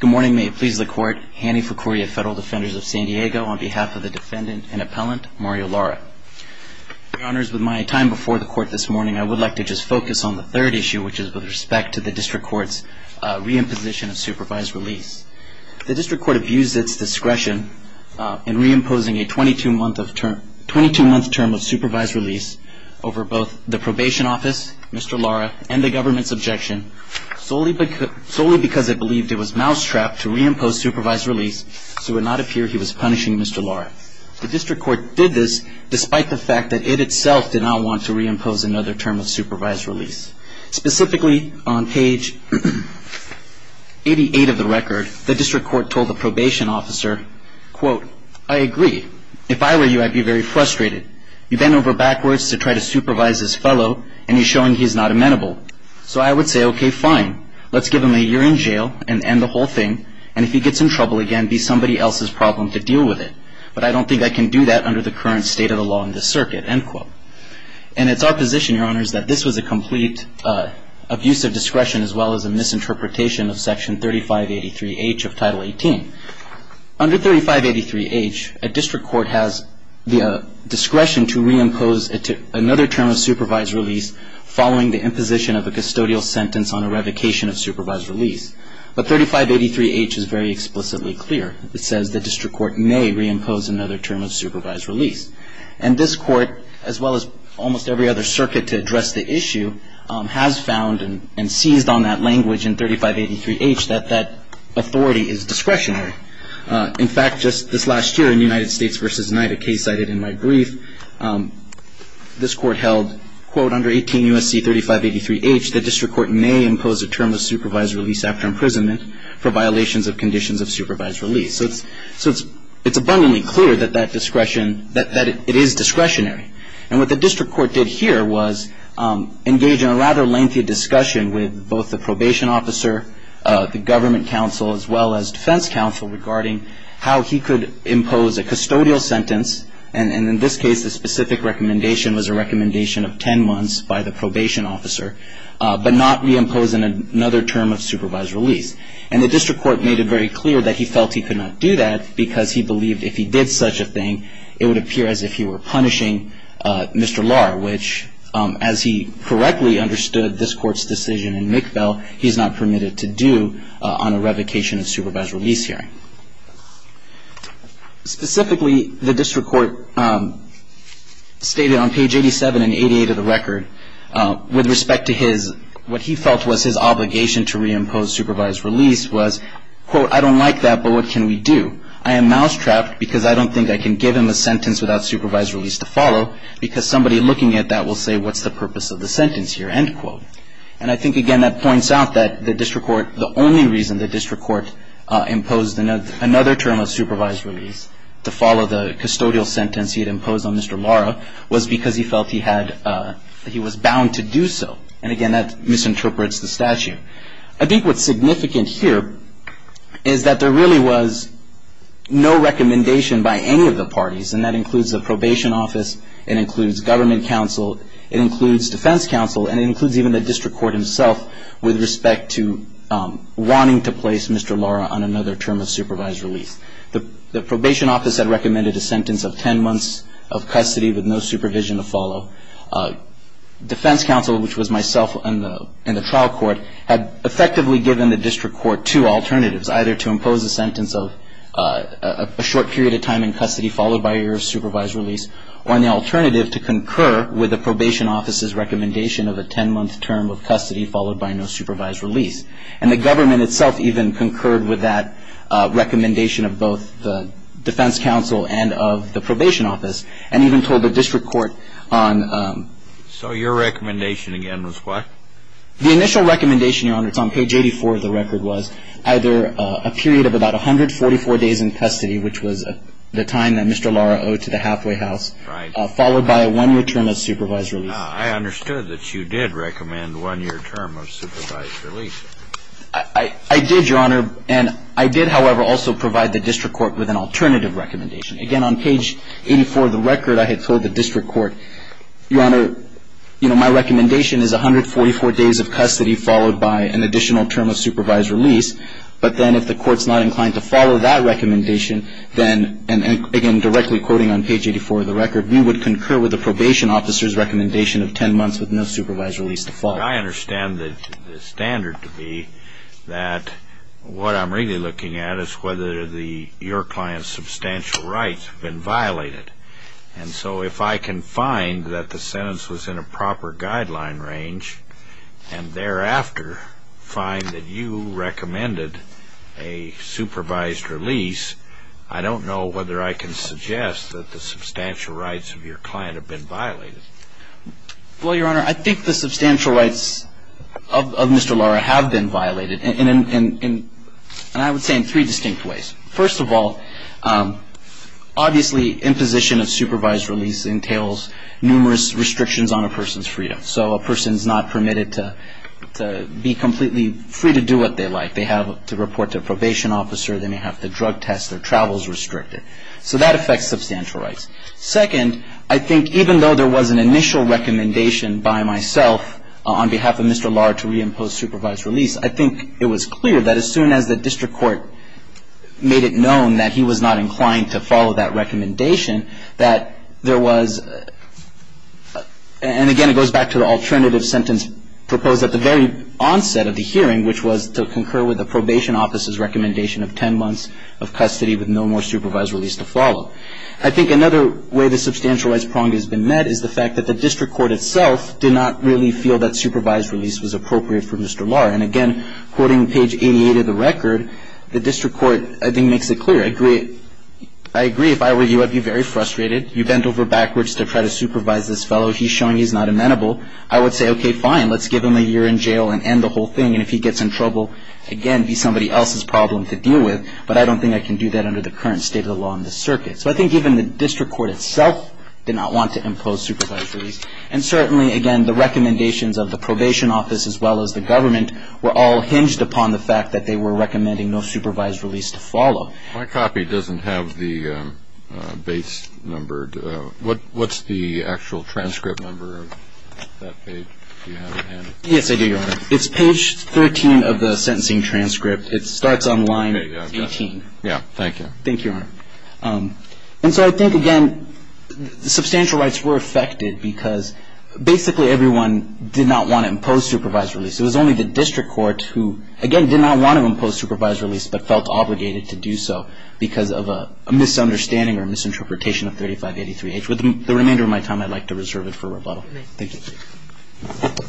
Good morning. May it please the court, Hanny Ficoria, Federal Defenders of San Diego, on behalf of the defendant and appellant, Mario Lara. Your honors, with my time before the court this morning, I would like to just focus on the third issue, which is with respect to the district court's reimposition of supervised release. The district court abused its discretion in reimposing a 22-month term of supervised release over both the probation office, Mr. Lara, and the government's objection, solely because it believed it was mousetrapped to reimpose supervised release so it would not appear he was punishing Mr. Lara. The district court did this despite the fact that it itself did not want to reimpose another term of supervised release. Specifically, on page 88 of the record, the district court told the probation officer, quote, I agree. If I were you, I'd be very frustrated. You bent over backwards to try to supervise this fellow, and you're showing he's not amenable. So I would say, OK, fine. Let's give him a year in jail and end the whole thing. And if he gets in trouble again, be somebody else's problem to deal with it. But I don't think I can do that under the current state of the law in this circuit, end quote. And it's our position, your honors, that this was a complete abuse of discretion as well as a misinterpretation of Section 3583H of Title 18. Under 3583H, a district court has the discretion to reimpose another term of supervised release following the imposition of a custodial sentence on a revocation of supervised release. But 3583H is very explicitly clear. It says the district court may reimpose another term of supervised release. And this court, as well as almost every other circuit to address the issue, has found and seized on that language in 3583H that that authority is discretionary. In fact, just this last year in United States v. NIDA, a case I did in my brief, this court held, quote, under 18 U.S.C. 3583H, the district court may impose a term of supervised release after imprisonment for violations of conditions of supervised release. So it's abundantly clear that that discretion, that it is discretionary. And what the district court did here was engage in a rather lengthy discussion with both the probation officer, the government counsel, as well as defense counsel regarding how he could impose a custodial sentence, and in this case the specific recommendation was a recommendation of 10 months by the probation officer, but not reimpose another term of supervised release. And the district court made it very clear that he felt he could not do that because he believed if he did such a thing, it would appear as if he were punishing Mr. Lahr, which as he correctly understood this court's decision in McBell, he's not permitted to do on a revocation of supervised release hearing. Specifically, the district court stated on page 87 and 88 of the record, with respect to his, what he felt was his obligation to reimpose supervised release was, quote, I don't like that, but what can we do? I am mousetrapped because I don't think I can give him a sentence without supervised release to follow because somebody looking at that will say what's the purpose of the sentence here, end quote. And I think, again, that points out that the district court, the only reason the district court imposed another term of supervised release to follow the custodial sentence he had imposed on Mr. Lahr was because he felt he had, he was bound to do so. And, again, that misinterprets the statute. I think what's significant here is that there really was no recommendation by any of the parties, and that includes the probation office, it includes government counsel, it includes defense counsel, and it includes even the district court himself with respect to wanting to place Mr. Lahr on another term of supervised release. The probation office had recommended a sentence of 10 months of custody with no supervision to follow. Defense counsel, which was myself in the trial court, had effectively given the district court two alternatives, either to impose a sentence of a short period of time in custody followed by a year of supervised release, or an alternative to concur with the probation office's recommendation of a 10-month term of custody followed by no supervised release. And the government itself even concurred with that recommendation of both the defense counsel and of the probation office, and even told the district court on ‑‑ So your recommendation, again, was what? The initial recommendation, Your Honor, it's on page 84 of the record, was either a period of about 144 days in custody, which was the time that Mr. Lahr owed to the Hathaway house, followed by a one-year term of supervised release. I understood that you did recommend one-year term of supervised release. I did, Your Honor, and I did, however, also provide the district court with an alternative recommendation. Again, on page 84 of the record, I had told the district court, Your Honor, you know, my recommendation is 144 days of custody followed by an additional term of supervised release, but then if the court's not inclined to follow that recommendation, then, and again, directly quoting on page 84 of the record, we would concur with the probation officer's recommendation of 10 months with no supervised release to follow. I understand the standard to be that what I'm really looking at is whether your client's substantial rights have been violated. And so if I can find that the sentence was in a proper guideline range and thereafter find that you recommended a supervised release, I don't know whether I can suggest that the substantial rights of your client have been violated. Well, Your Honor, I think the substantial rights of Mr. Lara have been violated, and I would say in three distinct ways. First of all, obviously imposition of supervised release entails numerous restrictions on a person's freedom. So a person's not permitted to be completely free to do what they like. They have to report to a probation officer. They may have to drug test. Their travel is restricted. So that affects substantial rights. Second, I think even though there was an initial recommendation by myself on behalf of Mr. Lara to reimpose supervised release, I think it was clear that as soon as the district court made it known that he was not inclined to follow that recommendation, that there was, and again, it goes back to the alternative sentence proposed at the very onset of the hearing, which was to concur with the probation officer's recommendation of 10 months of custody with no more supervised release to follow. I think another way the substantial rights prong has been met is the fact that the district court itself did not really feel that supervised release was appropriate for Mr. Lara. And again, quoting page 88 of the record, the district court, I think, makes it clear. I agree if I were you, I'd be very frustrated. You bent over backwards to try to supervise this fellow. He's showing he's not amenable. I would say, okay, fine, let's give him a year in jail and end the whole thing. And if he gets in trouble, again, be somebody else's problem to deal with. But I don't think I can do that under the current state of the law in this circuit. So I think even the district court itself did not want to impose supervised release. And certainly, again, the recommendations of the probation office as well as the government were all hinged upon the fact that they were recommending no supervised release to follow. My copy doesn't have the base number. What's the actual transcript number of that page? Do you have it, Hannity? Yes, I do, Your Honor. It's page 13 of the sentencing transcript. It starts on line 18. Yeah, thank you. Thank you, Your Honor. And so I think, again, substantial rights were affected because basically everyone did not want to impose supervised release. It was only the district court who, again, did not want to impose supervised release, but felt obligated to do so because of a misunderstanding or misinterpretation of 3583H. With the remainder of my time, I'd like to reserve it for rebuttal. Thank you. Thank you.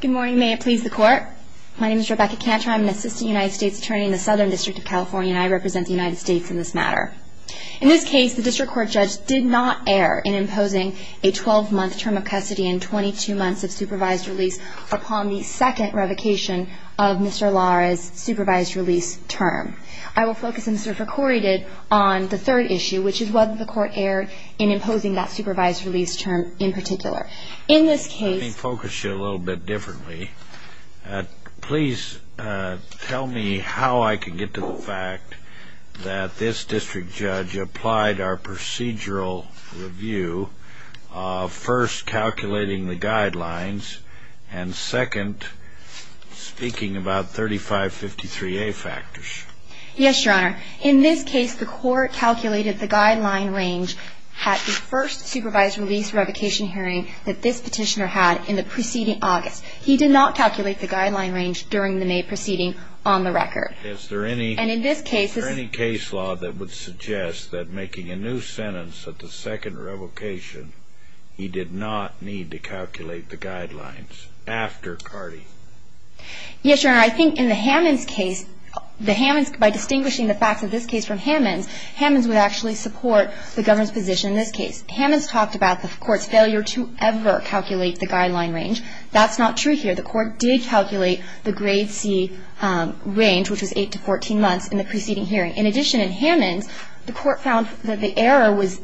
Good morning. May it please the Court. My name is Rebecca Cantor. I'm an assistant United States attorney in the Southern District of California, and I represent the United States in this matter. In this case, the district court judge did not err in imposing a 12-month term of custody and 22 months of supervised release upon the second revocation of Mr. Lara's supervised release term. I will focus instead, for Corey did, on the third issue, which is whether the court erred in imposing that supervised release term in particular. In this case ---- Let me focus you a little bit differently. Please tell me how I can get to the fact that this district judge applied our procedural review of first calculating the guidelines and, second, speaking about 3553A factors. Yes, Your Honor. In this case, the court calculated the guideline range at the first supervised release revocation hearing that this petitioner had in the preceding August. He did not calculate the guideline range during the May proceeding on the record. Is there any ---- And in this case ---- Is there any case law that would suggest that making a new sentence at the second revocation, he did not need to calculate the guidelines after Cardi? Yes, Your Honor. I think in the Hammons case, the Hammons, by distinguishing the facts of this case from Hammons, Hammons would actually support the government's position in this case. Hammons talked about the court's failure to ever calculate the guideline range. That's not true here. The court did calculate the grade C range, which was 8 to 14 months, in the preceding hearing. In addition, in Hammons, the court found that the error was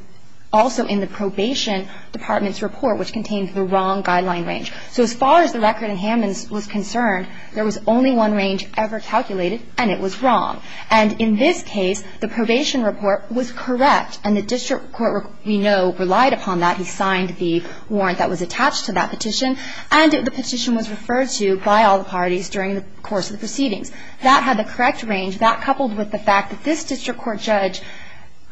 also in the probation department's report, which contained the wrong guideline range. So as far as the record in Hammons was concerned, there was only one range ever calculated, and it was wrong. And in this case, the probation report was correct, and the district court, we know, relied upon that. He signed the warrant that was attached to that petition, and the petition was referred to by all the parties during the course of the proceedings. That had the correct range. That coupled with the fact that this district court judge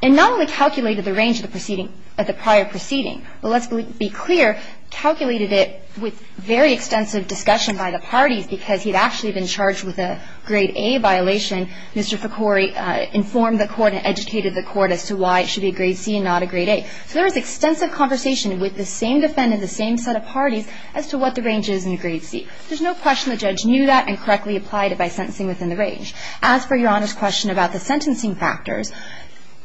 not only calculated the range of the prior proceeding, but let's be clear, calculated it with very extensive discussion by the parties, because he'd actually been charged with a grade A violation. Mr. Ficori informed the court and educated the court as to why it should be a grade C and not a grade A. So there was extensive conversation with the same defendant, the same set of parties, as to what the range is in a grade C. There's no question the judge knew that and correctly applied it by sentencing within the range. As for Your Honor's question about the sentencing factors,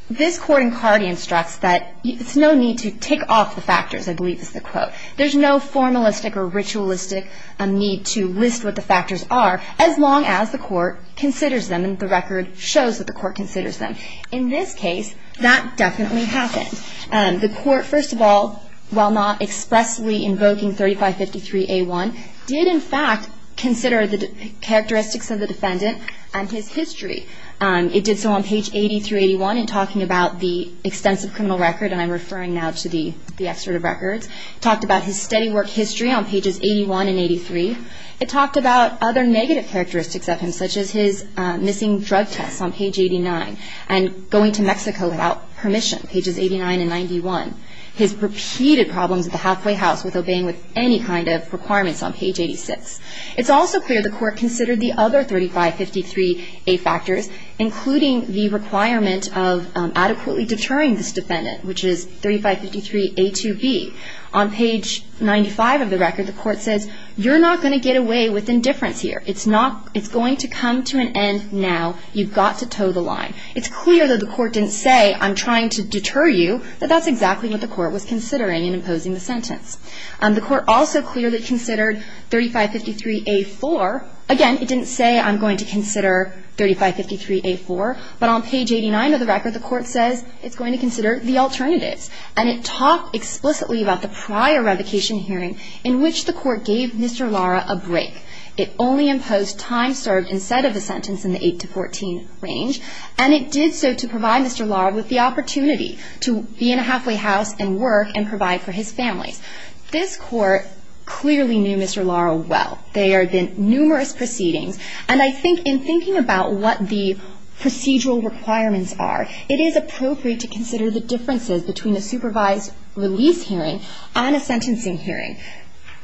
this Court in Cardi instructs that it's no need to tick off the factors, I believe is the quote. There's no formalistic or ritualistic need to list what the factors are, as long as the court considers them and the record shows that the court considers them. In this case, that definitely happened. The court, first of all, while not expressly invoking 3553A1, did in fact consider the characteristics of the defendant and his history. It did so on page 80 through 81 in talking about the extensive criminal record, and I'm referring now to the excerpt of records. It talked about his steady work history on pages 81 and 83. It talked about other negative characteristics of him, such as his missing drug tests on page 89 and going to Mexico without permission, pages 89 and 91. His repeated problems at the halfway house with obeying any kind of requirements on page 86. It's also clear the court considered the other 3553A factors, including the requirement of adequately deterring this defendant, which is 3553A2B. On page 95 of the record, the court says, you're not going to get away with indifference here. It's going to come to an end now. You've got to toe the line. It's clear that the court didn't say, I'm trying to deter you, that that's exactly what the court was considering in imposing the sentence. The court also clearly considered 3553A4. Again, it didn't say, I'm going to consider 3553A4. But on page 89 of the record, the court says it's going to consider the alternatives. And it talked explicitly about the prior revocation hearing in which the court gave Mr. Lara a break. It only imposed time served instead of a sentence in the 8-14 range. And it did so to provide Mr. Lara with the opportunity to be in a halfway house and work and provide for his family. This court clearly knew Mr. Lara well. There have been numerous proceedings. And I think in thinking about what the procedural requirements are, it is appropriate to consider the differences between a supervised release hearing and a sentencing hearing.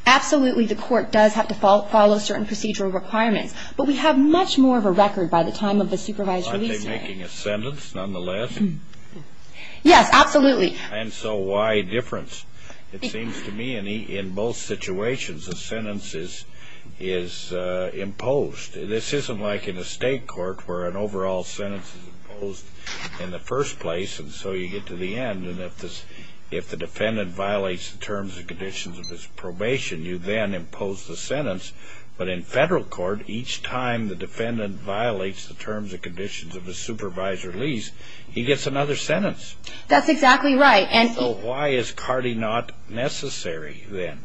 Absolutely, the court does have to follow certain procedural requirements. But we have much more of a record by the time of the supervised release hearing. Aren't they making a sentence nonetheless? Yes, absolutely. And so why a difference? It seems to me in both situations a sentence is imposed. This isn't like in a state court where an overall sentence is imposed in the first place and so you get to the end. If the defendant violates the terms and conditions of his probation, you then impose the sentence. But in federal court, each time the defendant violates the terms and conditions of the supervised release, he gets another sentence. That's exactly right. So why is CARDI not necessary then?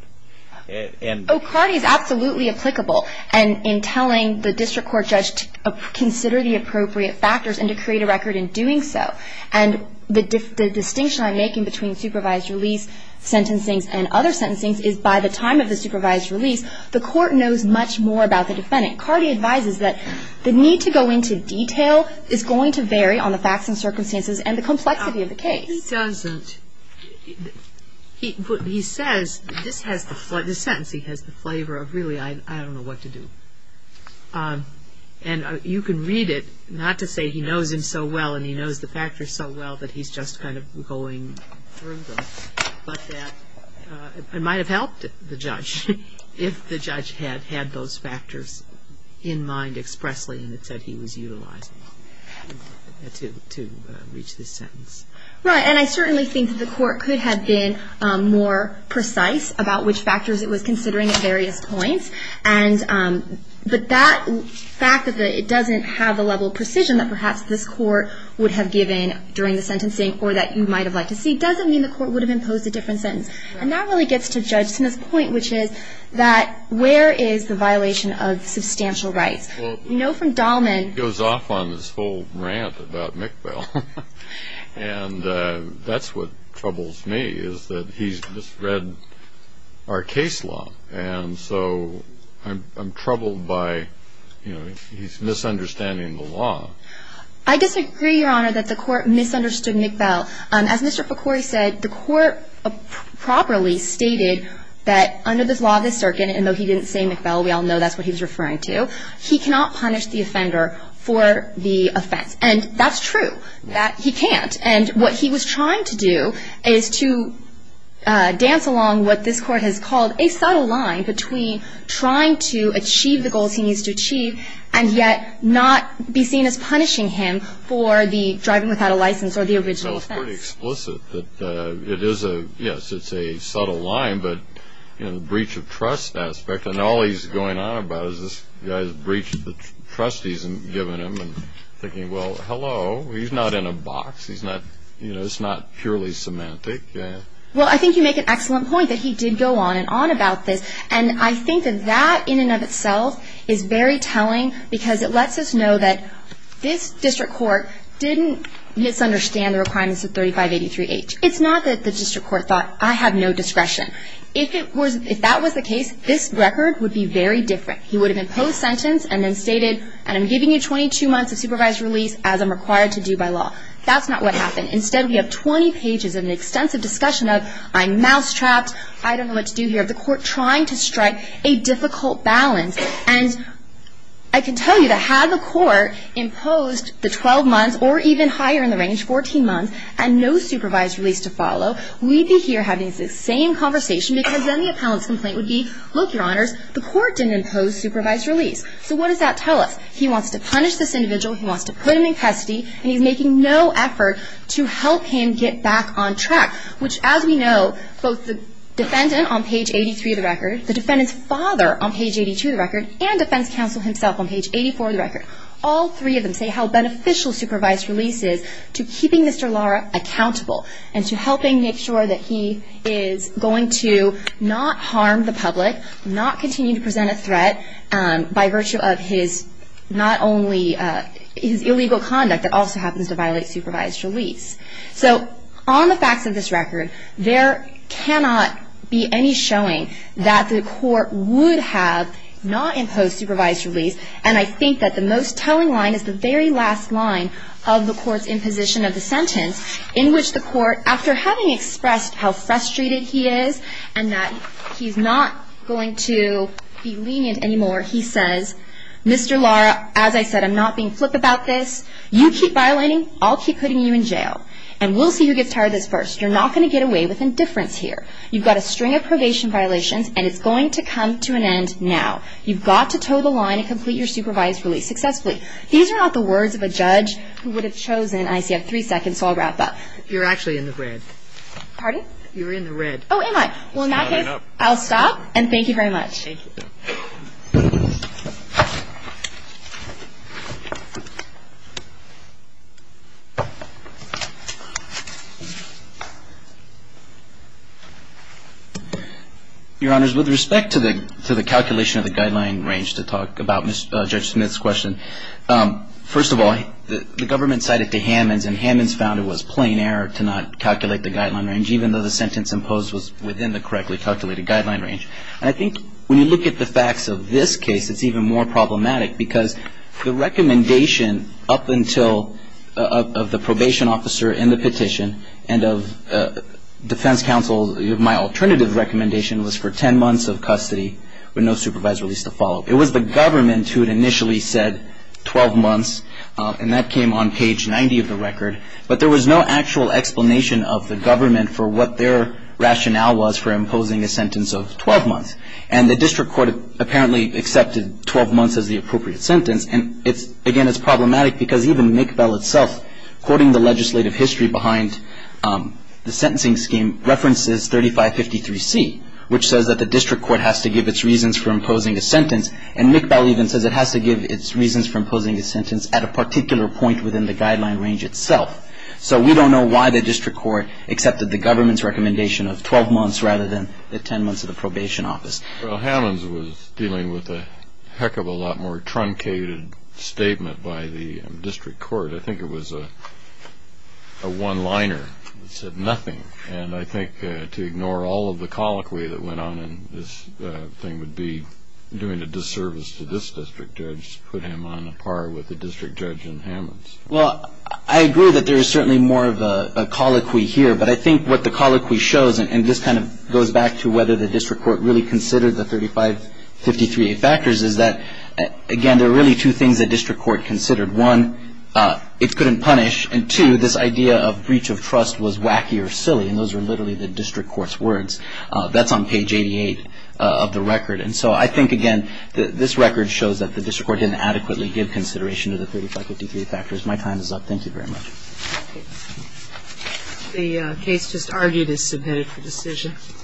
CARDI is absolutely applicable in telling the district court judge to consider the appropriate factors and to create a record in doing so. And the distinction I'm making between supervised release sentencing and other sentencing is by the time of the supervised release, the court knows much more about the defendant. CARDI advises that the need to go into detail is going to vary on the facts and circumstances and the complexity of the case. No, it doesn't. He says, this sentence he has the flavor of really I don't know what to do. And you can read it, not to say he knows him so well and he knows the factors so well that he's just kind of going through them, but that it might have helped the judge if the judge had had those factors in mind expressly and had said he was utilizing them to reach this sentence. Right. And I certainly think the court could have been more precise about which factors it was considering at various points. But that fact that it doesn't have the level of precision that perhaps this court would have given during the sentencing or that you might have liked to see doesn't mean the court would have imposed a different sentence. And that really gets to Judge Smith's point, which is that where is the violation of substantial rights? You know from Dahlman. He goes off on this whole rant about McBell. And that's what troubles me is that he's misread our case law. And so I'm troubled by, you know, he's misunderstanding the law. I disagree, Your Honor, that the court misunderstood McBell. As Mr. Ficori said, the court properly stated that under the law of the circuit, and though he didn't say McBell, we all know that's what he was referring to, he cannot punish the offender for the offense. And that's true that he can't. And what he was trying to do is to dance along what this court has called a subtle line between trying to achieve the goals he needs to achieve and yet not be seen as punishing him for the driving without a license or the original offense. It's pretty explicit that it is a, yes, it's a subtle line, but, you know, the breach of trust aspect, and all he's going on about is this guy's breached the trust he's given him and thinking, well, hello, he's not in a box. He's not, you know, it's not purely semantic. Well, I think you make an excellent point that he did go on and on about this, and I think that that in and of itself is very telling because it lets us know that this district court didn't misunderstand the requirements of 3583H. It's not that the district court thought, I have no discretion. If that was the case, this record would be very different. He would have been post-sentenced and then stated, and I'm giving you 22 months of supervised release as I'm required to do by law. That's not what happened. Instead, we have 20 pages of an extensive discussion of I'm mousetrapped. I don't know what to do here. The court trying to strike a difficult balance, and I can tell you that had the court imposed the 12 months or even higher in the range, 14 months, and no supervised release to follow, we'd be here having the same conversation because then the appellant's complaint would be, look, Your Honors, the court didn't impose supervised release. So what does that tell us? He wants to punish this individual, he wants to put him in custody, and he's making no effort to help him get back on track, which, as we know, both the defendant on page 83 of the record, the defendant's father on page 82 of the record, and defense counsel himself on page 84 of the record, all three of them say how beneficial supervised release is to keeping Mr. Lara accountable and to helping make sure that he is going to not harm the public, not continue to present a threat by virtue of his not only his illegal conduct, it also happens to violate supervised release. So on the facts of this record, there cannot be any showing that the court would have not imposed supervised release, and I think that the most telling line is the very last line of the court's imposition of the sentence, in which the court, after having expressed how frustrated he is and that he's not going to be lenient anymore, he says, Mr. Lara, as I said, I'm not being flip about this. You keep violating, I'll keep putting you in jail, and we'll see who gets tired of this first. You're not going to get away with indifference here. You've got a string of probation violations, and it's going to come to an end now. You've got to toe the line and complete your supervised release successfully. These are not the words of a judge who would have chosen, and I see I have three seconds, so I'll wrap up. You're actually in the red. Pardon? You're in the red. Oh, am I? Well, in that case, I'll stop, and thank you very much. Thank you. Your Honors, with respect to the calculation of the guideline range to talk about Judge Smith's question, first of all, the government cited to Hammons, and Hammons found it was plain error to not calculate the guideline range, even though the sentence imposed was within the correctly calculated guideline range. And I think when you look at the sentence, the sentence itself, it's even more problematic, because the recommendation up until the probation officer in the petition, and of defense counsel, my alternative recommendation was for 10 months of custody with no supervised release to follow. It was the government who had initially said 12 months, and that came on page 90 of the record. But there was no actual explanation of the government for what their rationale was for imposing a sentence of 12 months. And the district court apparently accepted 12 months as the appropriate sentence, and again, it's problematic because even McBell itself, quoting the legislative history behind the sentencing scheme, references 3553C, which says that the district court has to give its reasons for imposing a sentence, and McBell even says it has to give its reasons for imposing a sentence at a particular point within the guideline range itself. So we don't know why the district court accepted the government's recommendation of 12 months rather than the 10 months of the probation office. Well, Hammonds was dealing with a heck of a lot more truncated statement by the district court. I think it was a one-liner that said nothing. And I think to ignore all of the colloquy that went on in this thing would be doing a disservice to this district judge, put him on a par with the district judge in Hammonds. Well, I agree that there is certainly more of a colloquy here, but I think what the colloquy shows, and this kind of goes back to whether the district court really considered the 3553A factors, is that, again, there are really two things the district court considered. One, it couldn't punish, and two, this idea of breach of trust was wacky or silly, and those were literally the district court's words. That's on page 88 of the record. And so I think, again, this record shows that the district court didn't adequately give consideration to the 3553A factors. My time is up. Thank you very much. The case just argued is submitted for decision.